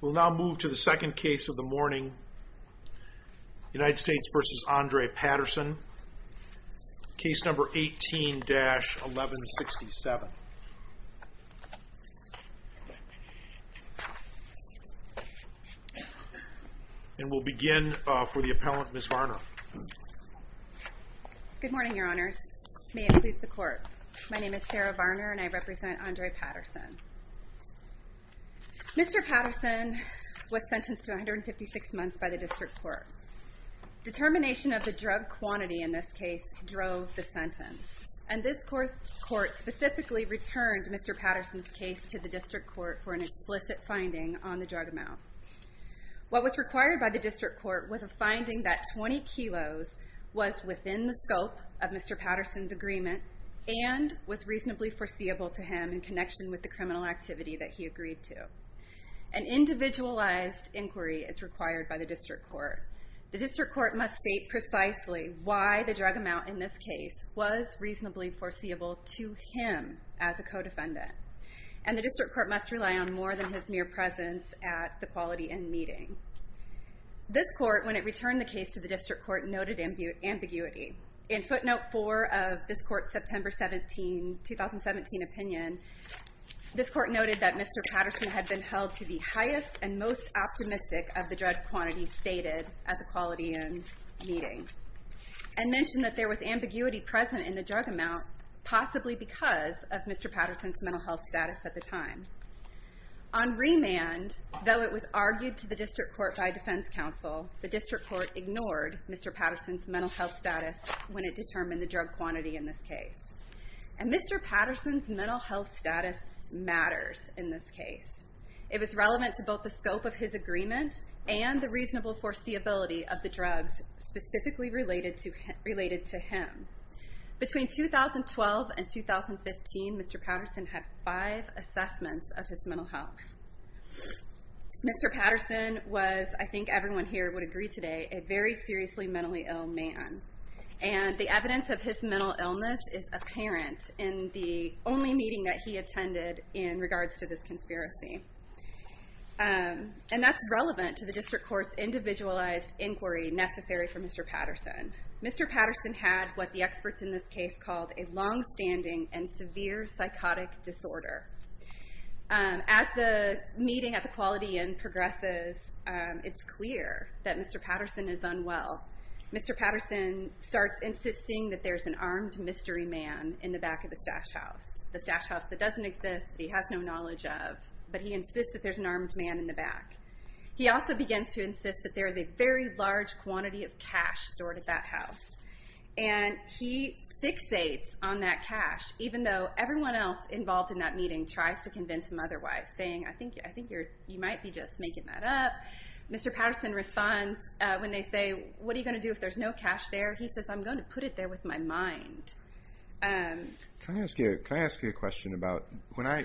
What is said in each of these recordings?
We'll now move to the second case of the morning, United States v. Andre Patterson, case number 18-1167. And we'll begin for the appellant, Ms. Varner. Good morning, your honors. May it please the court. My name is Sarah Varner and I represent Andre Patterson. Mr. Patterson was sentenced to 156 months by the district court. Determination of the drug quantity in this case drove the sentence. And this court specifically returned Mr. Patterson's case to the district court for an explicit finding on the drug amount. What was required by the district court was a finding that 20 kilos was within the scope of Mr. Patterson's agreement and was reasonably foreseeable to him in connection with the criminal activity that he agreed to. An individualized inquiry is required by the district court. The district court must state precisely why the drug amount in this case was reasonably foreseeable to him as a co-defendant. And the district court must rely on more than his mere presence at the quality end meeting. This court, when it returned the case to the district court, noted ambiguity. In footnote 4 of this court's September 17, 2017 opinion, this court noted that Mr. Patterson had been held to the highest and most optimistic of the drug quantity stated at the quality end meeting. And mentioned that there was ambiguity present in the drug amount, possibly because of Mr. Patterson's mental health status at the time. On remand, though it was argued to the district court by defense counsel, the district court ignored Mr. Patterson's mental health status when it determined the drug quantity in this case. And Mr. Patterson's mental health status matters in this case. It was relevant to both the scope of his agreement and the reasonable foreseeability of the drugs specifically related to him. Between 2012 and 2015, Mr. Patterson had five assessments of his mental health. Mr. Patterson was, I think everyone here would agree today, a very seriously mentally ill man. And the evidence of his mental illness is apparent in the only meeting that he attended in regards to this conspiracy. And that's relevant to the district court's individualized inquiry necessary for Mr. Patterson. Mr. Patterson had what the experts in this case called a longstanding and severe psychotic disorder. As the meeting at the Quality Inn progresses, it's clear that Mr. Patterson is unwell. Mr. Patterson starts insisting that there's an armed mystery man in the back of the stash house. The stash house that doesn't exist, that he has no knowledge of. But he insists that there's an armed man in the back. He also begins to insist that there is a very large quantity of cash stored at that house. And he fixates on that cash, even though everyone else involved in that meeting tries to convince him otherwise, saying, I think you might be just making that up. Mr. Patterson responds when they say, what are you going to do if there's no cash there? He says, I'm going to put it there with my mind. Can I ask you a question about, when I,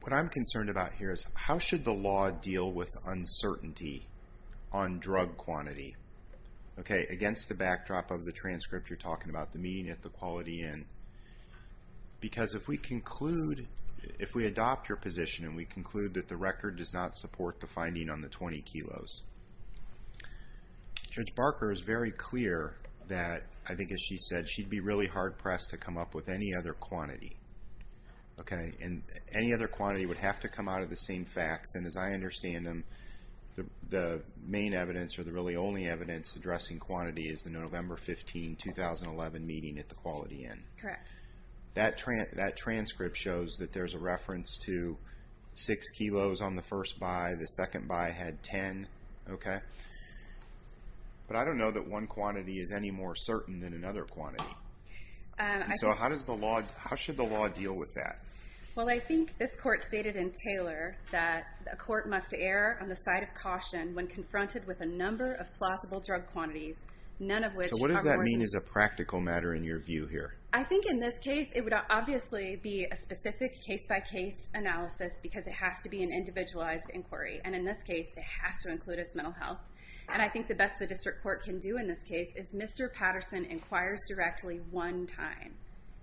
what I'm concerned about here is, how should the law deal with uncertainty on drug quantity? Against the backdrop of the transcript you're talking about, the meeting at the Quality Inn. Because if we conclude, if we adopt your position, and we conclude that the record does not support the finding on the 20 kilos, Judge Barker is very clear that, I think as she said, she'd be really hard-pressed to come up with any other quantity. Any other quantity would have to come out of the same facts, and as I understand them, the main evidence, or the really only evidence, addressing quantity is the November 15, 2011 meeting at the Quality Inn. Correct. That transcript shows that there's a reference to 6 kilos on the first buy. The second buy had 10. Okay. But I don't know that one quantity is any more certain than another quantity. So how does the law, how should the law deal with that? Well, I think this Court stated in Taylor that a court must err on the side of caution when confronted with a number of plausible drug quantities, none of which are reported. So what does that mean as a practical matter in your view here? I think in this case it would obviously be a specific case-by-case analysis because it has to be an individualized inquiry, and in this case it has to include mental health. And I think the best the district court can do in this case is Mr. Patterson inquires directly one time,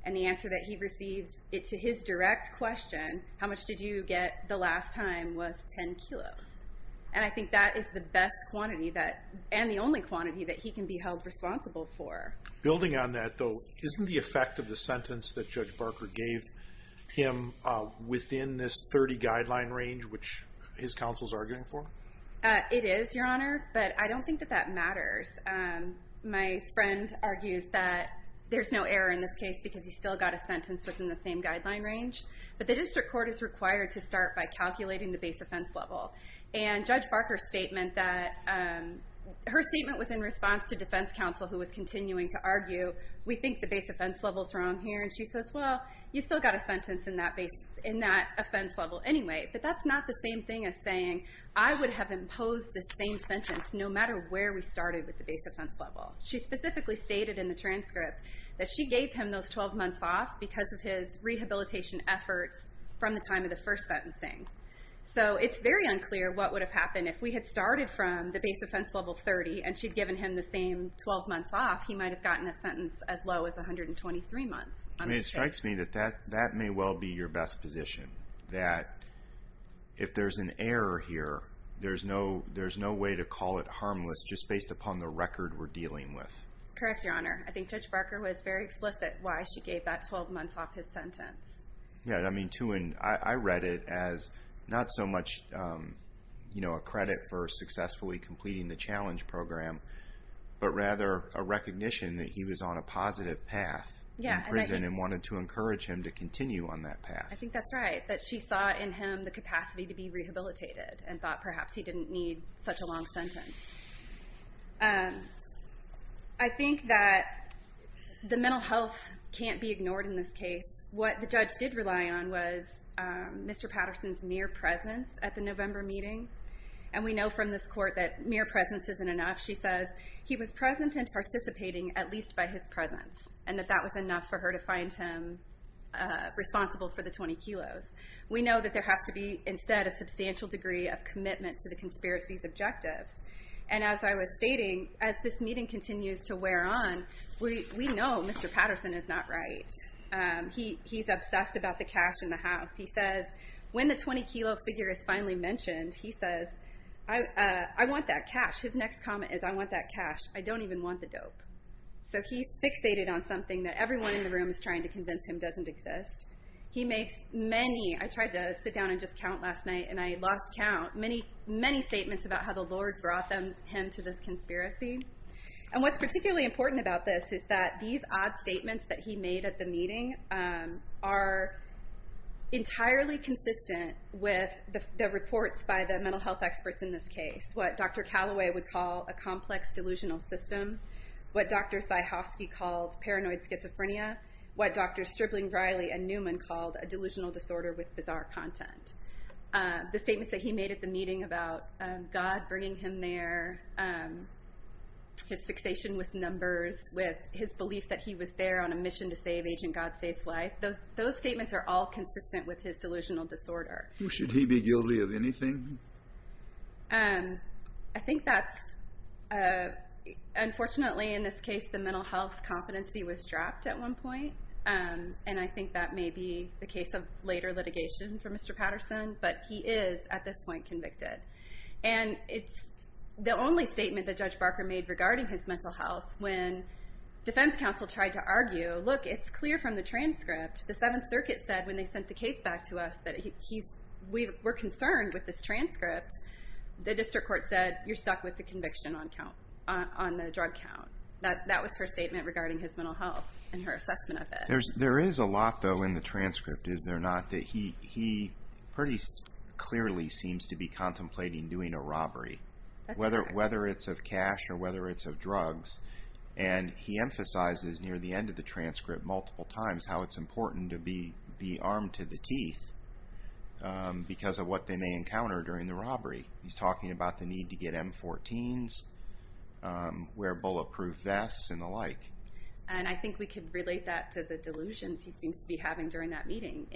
and the answer that he receives to his direct question, how much did you get the last time, was 10 kilos. And I think that is the best quantity and the only quantity that he can be held responsible for. Building on that though, isn't the effect of the sentence that Judge Barker gave him within this 30 guideline range which his counsel is arguing for? It is, Your Honor, but I don't think that that matters. My friend argues that there's no error in this case because he still got a sentence within the same guideline range. But the district court is required to start by calculating the base offense level. And Judge Barker's statement was in response to defense counsel who was continuing to argue, we think the base offense level is wrong here. And she says, well, you still got a sentence in that offense level anyway, but that's not the same thing as saying, I would have imposed the same sentence no matter where we started with the base offense level. She specifically stated in the transcript that she gave him those 12 months off because of his rehabilitation efforts from the time of the first sentencing. So it's very unclear what would have happened if we had started from the base offense level 30 and she'd given him the same 12 months off, he might have gotten a sentence as low as 123 months on this case. It strikes me that that may well be your best position, that if there's an error here, there's no way to call it harmless just based upon the record we're dealing with. Correct, Your Honor. I think Judge Barker was very explicit why she gave that 12 months off his sentence. I read it as not so much a credit for successfully completing the challenge program, but rather a recognition that he was on a positive path in prison and wanted to encourage him to continue on that path. I think that's right, that she saw in him the capacity to be rehabilitated and thought perhaps he didn't need such a long sentence. I think that the mental health can't be ignored in this case. What the judge did rely on was Mr. Patterson's mere presence at the November meeting, and we know from this court that mere presence isn't enough. She says he was present and participating at least by his presence, and that that was enough for her to find him responsible for the 20 kilos. We know that there has to be instead a substantial degree of commitment to the conspiracy's objectives. And as I was stating, as this meeting continues to wear on, we know Mr. Patterson is not right. He's obsessed about the cash in the house. He says when the 20 kilo figure is finally mentioned, he says, I want that cash. His next comment is, I want that cash. I don't even want the dope. So he's fixated on something that everyone in the room is trying to convince him doesn't exist. He makes many, I tried to sit down and just count last night, and I lost count, many, many statements about how the Lord brought him to this conspiracy. And what's particularly important about this is that these odd statements that he made at the meeting are entirely consistent with the reports by the mental health experts in this case. What Dr. Calloway would call a complex delusional system, what Dr. Sajowski called paranoid schizophrenia, what Drs. Stripling, Riley, and Newman called a delusional disorder with bizarre content. The statements that he made at the meeting about God bringing him there, his fixation with numbers, with his belief that he was there on a mission to save Agent God Save's life, those statements are all consistent with his delusional disorder. Should he be guilty of anything? I think that's, unfortunately in this case, the mental health competency was dropped at one point. And I think that may be the case of later litigation for Mr. Patterson, but he is, at this point, convicted. And it's the only statement that Judge Barker made regarding his mental health when defense counsel tried to argue, look, it's clear from the transcript. The Seventh Circuit said when they sent the case back to us that we're concerned with this transcript. The district court said, you're stuck with the conviction on the drug count. That was her statement regarding his mental health and her assessment of it. There is a lot, though, in the transcript, is there not, that he pretty clearly seems to be contemplating doing a robbery. That's correct. Whether it's of cash or whether it's of drugs. And he emphasizes near the end of the transcript multiple times how it's important to be armed to the teeth because of what they may encounter during the robbery. He's talking about the need to get M14s, wear bulletproof vests, and the like. And I think we can relate that to the delusions he seems to be having during that meeting.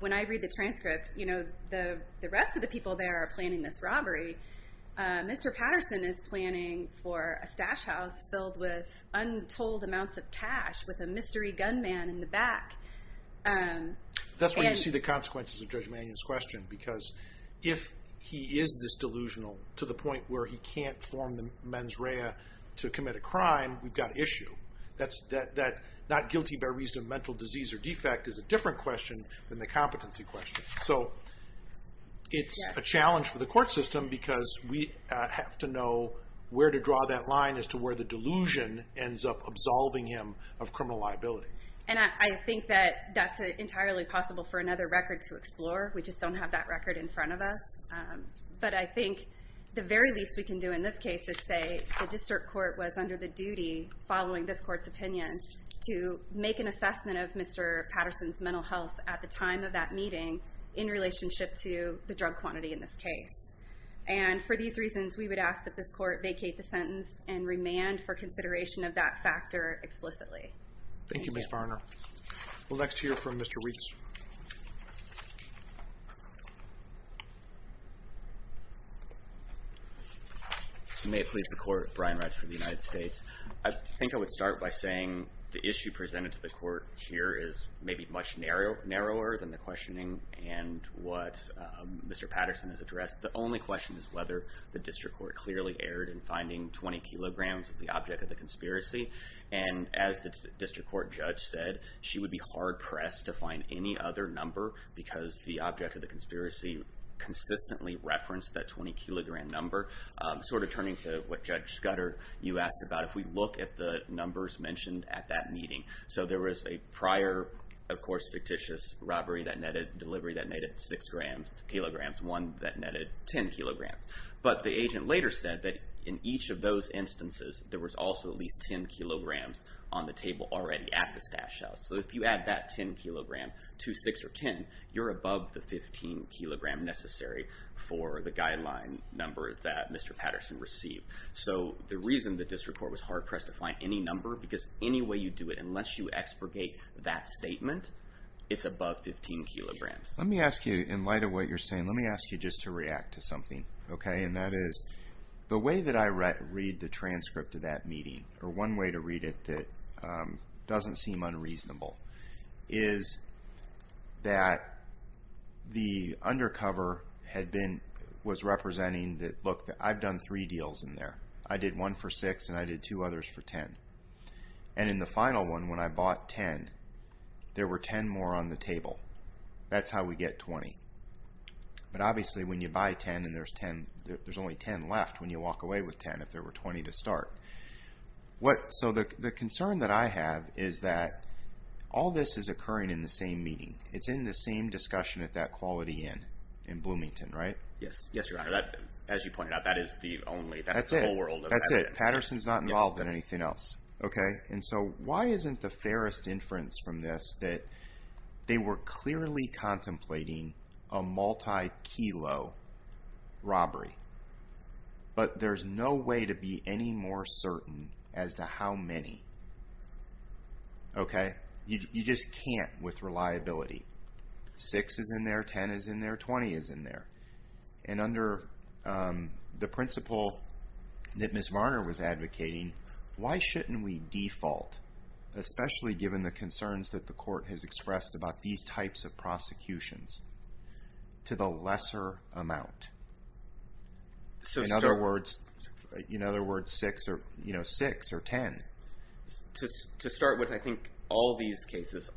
When I read the transcript, the rest of the people there are planning this robbery. Mr. Patterson is planning for a stash house filled with untold amounts of cash with a mystery gunman in the back. That's where you see the consequences of Judge Mannion's question because if he is this delusional to the point where he can't form the mens rea to commit a crime, we've got issue. That not guilty by reason of mental disease or defect is a different question than the competency question. So it's a challenge for the court system because we have to know where to draw that line as to where the delusion ends up absolving him of criminal liability. And I think that that's entirely possible for another record to explore. We just don't have that record in front of us. But I think the very least we can do in this case is say the district court was under the duty, following this court's opinion, to make an assessment of Mr. Patterson's mental health at the time of that meeting in relationship to the drug quantity in this case. And for these reasons, we would ask that this court vacate the sentence and remand for consideration of that factor explicitly. Thank you, Ms. Varner. We'll next hear from Mr. Reach. May it please the court. Brian Reitz from the United States. I think I would start by saying the issue presented to the court here is maybe much narrower than the questioning and what Mr. Patterson has addressed. The only question is whether the district court clearly erred in finding 20 kilograms as the object of the conspiracy. And as the district court judge said, she would be hard-pressed to find any evidence of any other number because the object of the conspiracy consistently referenced that 20-kilogram number. Sort of turning to what Judge Scudder, you asked about, if we look at the numbers mentioned at that meeting. So there was a prior, of course, fictitious robbery that netted delivery that netted 6 kilograms, one that netted 10 kilograms. But the agent later said that in each of those instances, there was also at least 10 kilograms on the table already at the stash house. So if you add that 10 kilogram to 6 or 10, you're above the 15 kilogram necessary for the guideline number that Mr. Patterson received. So the reason the district court was hard-pressed to find any number because any way you do it, unless you expurgate that statement, it's above 15 kilograms. Let me ask you, in light of what you're saying, let me ask you just to react to something. And that is, the way that I read the transcript of that meeting, or one way to read it that doesn't seem unreasonable, is that the undercover was representing that, look, I've done three deals in there. I did one for 6 and I did two others for 10. And in the final one, when I bought 10, there were 10 more on the table. That's how we get 20. But obviously, when you buy 10 and there's only 10 left, when you walk away with 10, if there were 20 to start. So the concern that I have is that all this is occurring in the same meeting. It's in the same discussion at that Quality Inn in Bloomington, right? Yes, Your Honor. As you pointed out, that is the only, that's the whole world of evidence. That's it. Patterson's not involved in anything else. And so why isn't the fairest inference from this that they were clearly contemplating a multi-kilo robbery, but there's no way to be any more certain as to how many, okay? You just can't with reliability. Six is in there, 10 is in there, 20 is in there. And under the principle that Ms. Varner was advocating, why shouldn't we default, especially given the concerns that the court has expressed about these types of prosecutions, to the lesser amount? In other words, six or 10. To start with, I think all these cases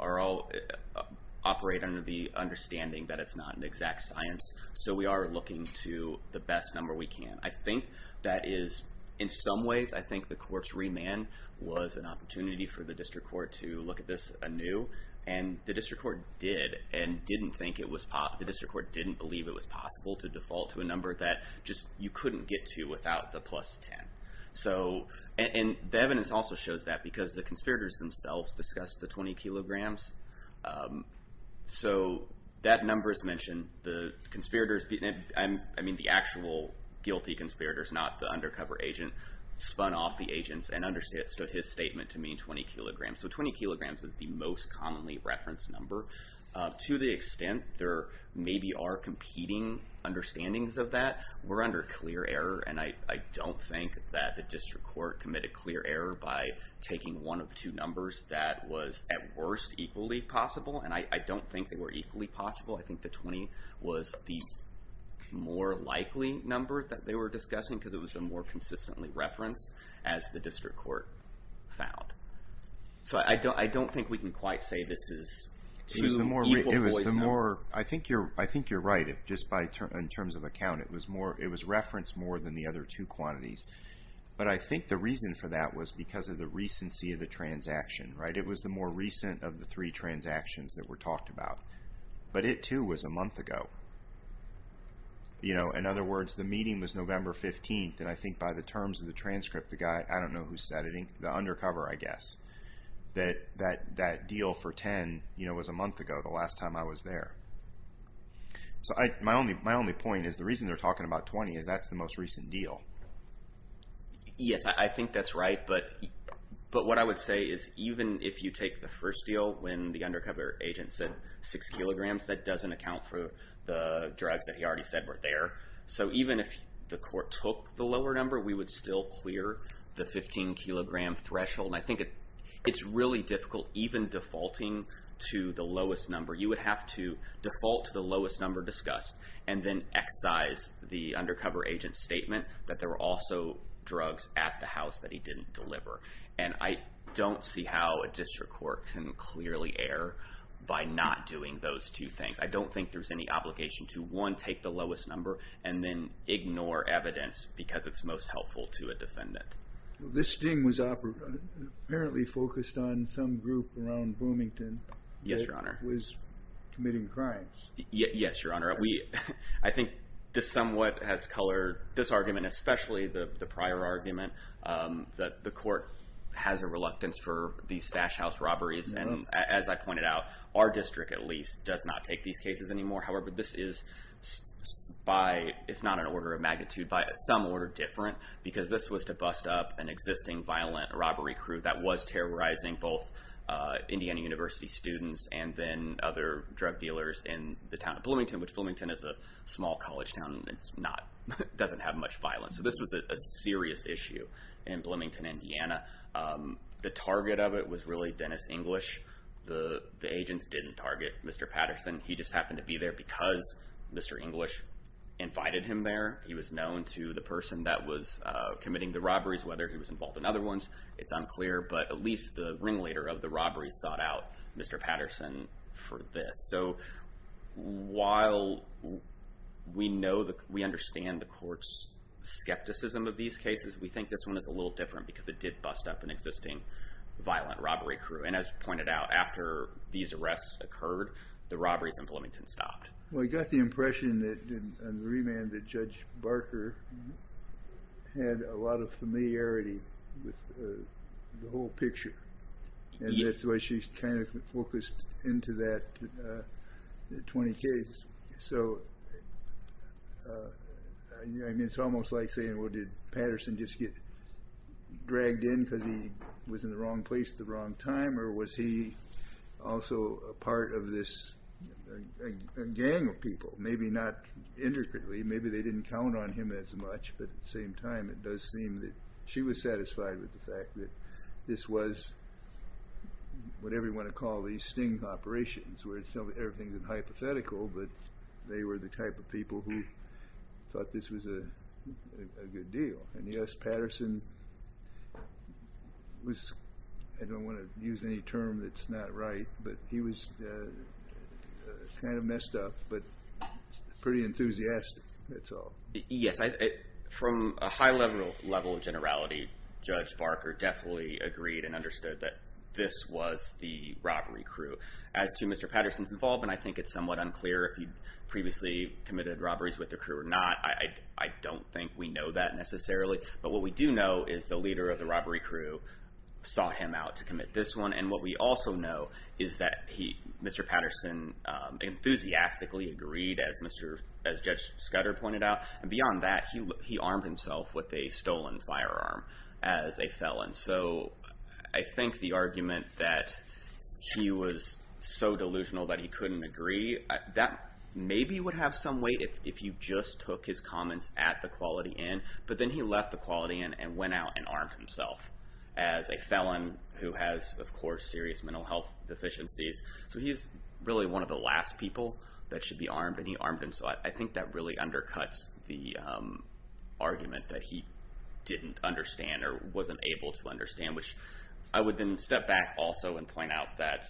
operate under the understanding that it's not an exact science. So we are looking to the best number we can. I think that is, in some ways, I think the court's remand was an opportunity for the district court to look at this anew. And the district court did, and didn't think it was possible, the district court didn't believe it was possible to default to a number that just you couldn't get to without the plus 10. And the evidence also shows that because the conspirators themselves discussed the 20 kilograms. So that number is mentioned. The conspirators, I mean the actual guilty conspirators, not the undercover agent, spun off the agents and understood his statement to mean 20 kilograms. So 20 kilograms is the most commonly referenced number. To the extent there maybe are competing understandings of that, we're under clear error. And I don't think that the district court committed clear error by taking one of two numbers that was, at worst, equally possible. And I don't think they were equally possible. I think the 20 was the more likely number that they were discussing because it was the more consistently referenced as the district court found. So I don't think we can quite say this is equal poisoning. I think you're right. Just in terms of account, it was referenced more than the other two quantities. But I think the reason for that was because of the recency of the transaction. It was the more recent of the three transactions that were talked about. But it, too, was a month ago. In other words, the meeting was November 15th, and I think by the terms of the transcript, the guy, I don't know who said it, the undercover, I guess, that that deal for 10 was a month ago, the last time I was there. So my only point is the reason they're talking about 20 is that's the most recent deal. Yes, I think that's right. But what I would say is even if you take the first deal when the undercover agent said 6 kilograms, that doesn't account for the drugs that he already said were there. So even if the court took the lower number, we would still clear the 15-kilogram threshold. And I think it's really difficult even defaulting to the lowest number. You would have to default to the lowest number discussed and then excise the undercover agent's statement that there were also drugs at the house that he didn't deliver. And I don't see how a district court can clearly err by not doing those two things. I don't think there's any obligation to, one, take the lowest number and then ignore evidence because it's most helpful to a defendant. This sting was apparently focused on some group around Bloomington. Yes, Your Honor. That was committing crimes. Yes, Your Honor. I think this somewhat has colored this argument, especially the prior argument that the court has a reluctance for these stash house robberies. And as I pointed out, our district, at least, does not take these cases anymore. However, this is by, if not an order of magnitude, by some order different because this was to bust up an existing violent robbery crew that was terrorizing both Indiana University students and then other drug dealers in the town of Bloomington, which Bloomington is a small college town and doesn't have much violence. So this was a serious issue in Bloomington, Indiana. The target of it was really Dennis English. The agents didn't target Mr. Patterson. He just happened to be there because Mr. English invited him there. He was known to the person that was committing the robberies, whether he was involved in other ones. It's unclear, but at least the ringleader of the robbery sought out Mr. Patterson for this. So while we understand the court's skepticism of these cases, we think this one is a little different because it did bust up an existing violent robbery crew. And as pointed out, after these arrests occurred, the robberies in Bloomington stopped. Well, I got the impression in the remand that Judge Barker had a lot of familiarity with the whole picture. And that's why she kind of focused into that 20 case. So, I mean, it's almost like saying, well, did Patterson just get dragged in because he was in the wrong place at the wrong time, or was he also a part of this gang of people? Maybe not intricately. Maybe they didn't count on him as much, but at the same time it does seem that she was satisfied with the fact that this was what everyone would call these sting operations, where everything is hypothetical, but they were the type of people who thought this was a good deal. And yes, Patterson was, I don't want to use any term that's not right, but he was kind of messed up, but pretty enthusiastic, that's all. Yes, from a high level of generality, Judge Barker definitely agreed and understood that this was the robbery crew. As to Mr. Patterson's involvement, I think it's somewhat unclear if he'd previously committed robberies with the crew or not. I don't think we know that necessarily. But what we do know is the leader of the robbery crew sought him out to commit this one. And what we also know is that Mr. Patterson enthusiastically agreed, as Judge Scudder pointed out. And beyond that, he armed himself with a stolen firearm as a felon. So I think the argument that he was so delusional that he couldn't agree, that maybe would have some weight if you just took his comments at the quality end. But then he left the quality end and went out and armed himself as a felon who has, of course, serious mental health deficiencies. And he armed himself. I think that really undercuts the argument that he didn't understand or wasn't able to understand, which I would then step back also and point out that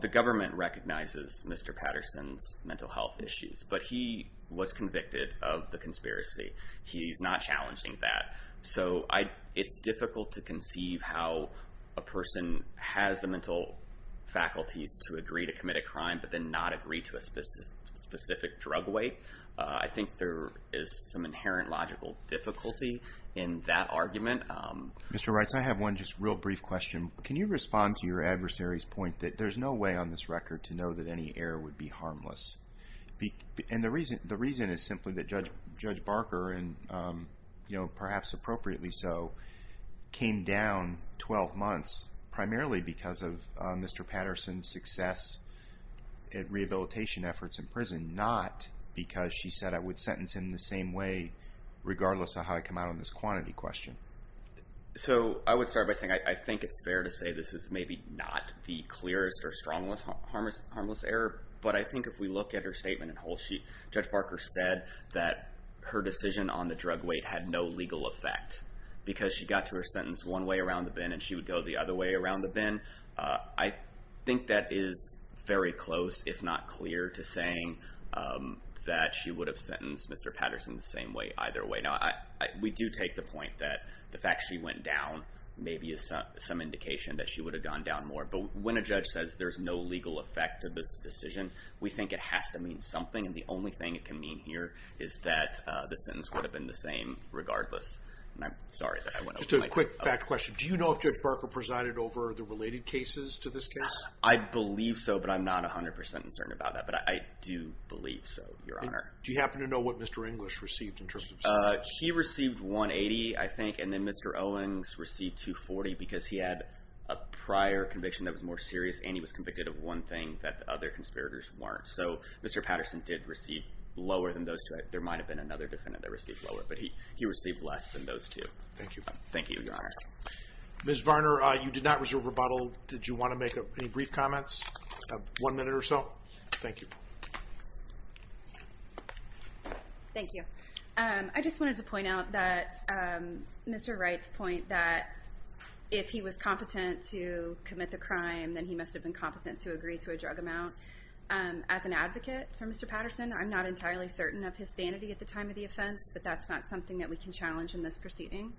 the government recognizes Mr. Patterson's mental health issues, but he was convicted of the conspiracy. He's not challenging that. So it's difficult to conceive how a person has the mental faculties to agree to commit a crime but then not agree to a specific drug weight. I think there is some inherent logical difficulty in that argument. Mr. Reitz, I have one just real brief question. Can you respond to your adversary's point that there's no way on this record to know that any error would be harmless? And the reason is simply that Judge Barker, and perhaps appropriately so, came down 12 months primarily because of Mr. Patterson's success at rehabilitation efforts in prison, not because she said I would sentence him the same way regardless of how I come out on this quantity question. So I would start by saying I think it's fair to say this is maybe not the clearest or strongest harmless error. But I think if we look at her statement in whole, Judge Barker said that her decision on the drug weight had no legal effect because she got to her sentence one way around the bin and she would go the other way around the bin. I think that is very close, if not clear, to saying that she would have sentenced Mr. Patterson the same way either way. Now, we do take the point that the fact she went down maybe is some indication that she would have gone down more. But when a judge says there's no legal effect to this decision, we think it has to mean something, and the only thing it can mean here is that the sentence would have been the same regardless. And I'm sorry that I went over my time. Just a quick fact question. Do you know if Judge Barker presided over the related cases to this case? I believe so, but I'm not 100% certain about that. But I do believe so, Your Honor. Do you happen to know what Mr. English received in terms of his sentence? He received 180, I think, and then Mr. Owings received 240 because he had a prior conviction that was more serious and he was convicted of one thing that the other conspirators weren't. So Mr. Patterson did receive lower than those two. There might have been another defendant that received lower, but he received less than those two. Thank you. Thank you, Your Honor. Ms. Varner, you did not reserve rebuttal. Did you want to make any brief comments? One minute or so. Thank you. Thank you. I just wanted to point out that Mr. Wright's point that if he was competent to commit the crime, then he must have been competent to agree to a drug amount. As an advocate for Mr. Patterson, I'm not entirely certain of his sanity at the time of the offense, but that's not something that we can challenge in this proceeding.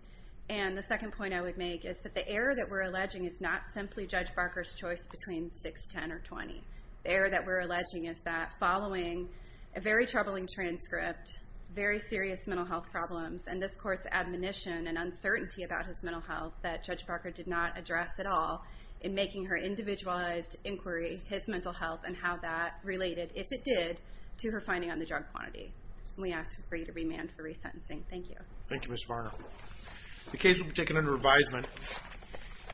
And the second point I would make is that the error that we're alleging is not simply Judge Barker's choice between 6, 10, or 20. The error that we're alleging is that following a very troubling transcript, very serious mental health problems, and this Court's admonition and uncertainty about his mental health that Judge Barker did not address at all in making her individualized inquiry his mental health and how that related, if it did, to her finding on the drug quantity. We ask for you to remand for resentencing. Thank you. Thank you, Ms. Varner. The case will be taken under advisement.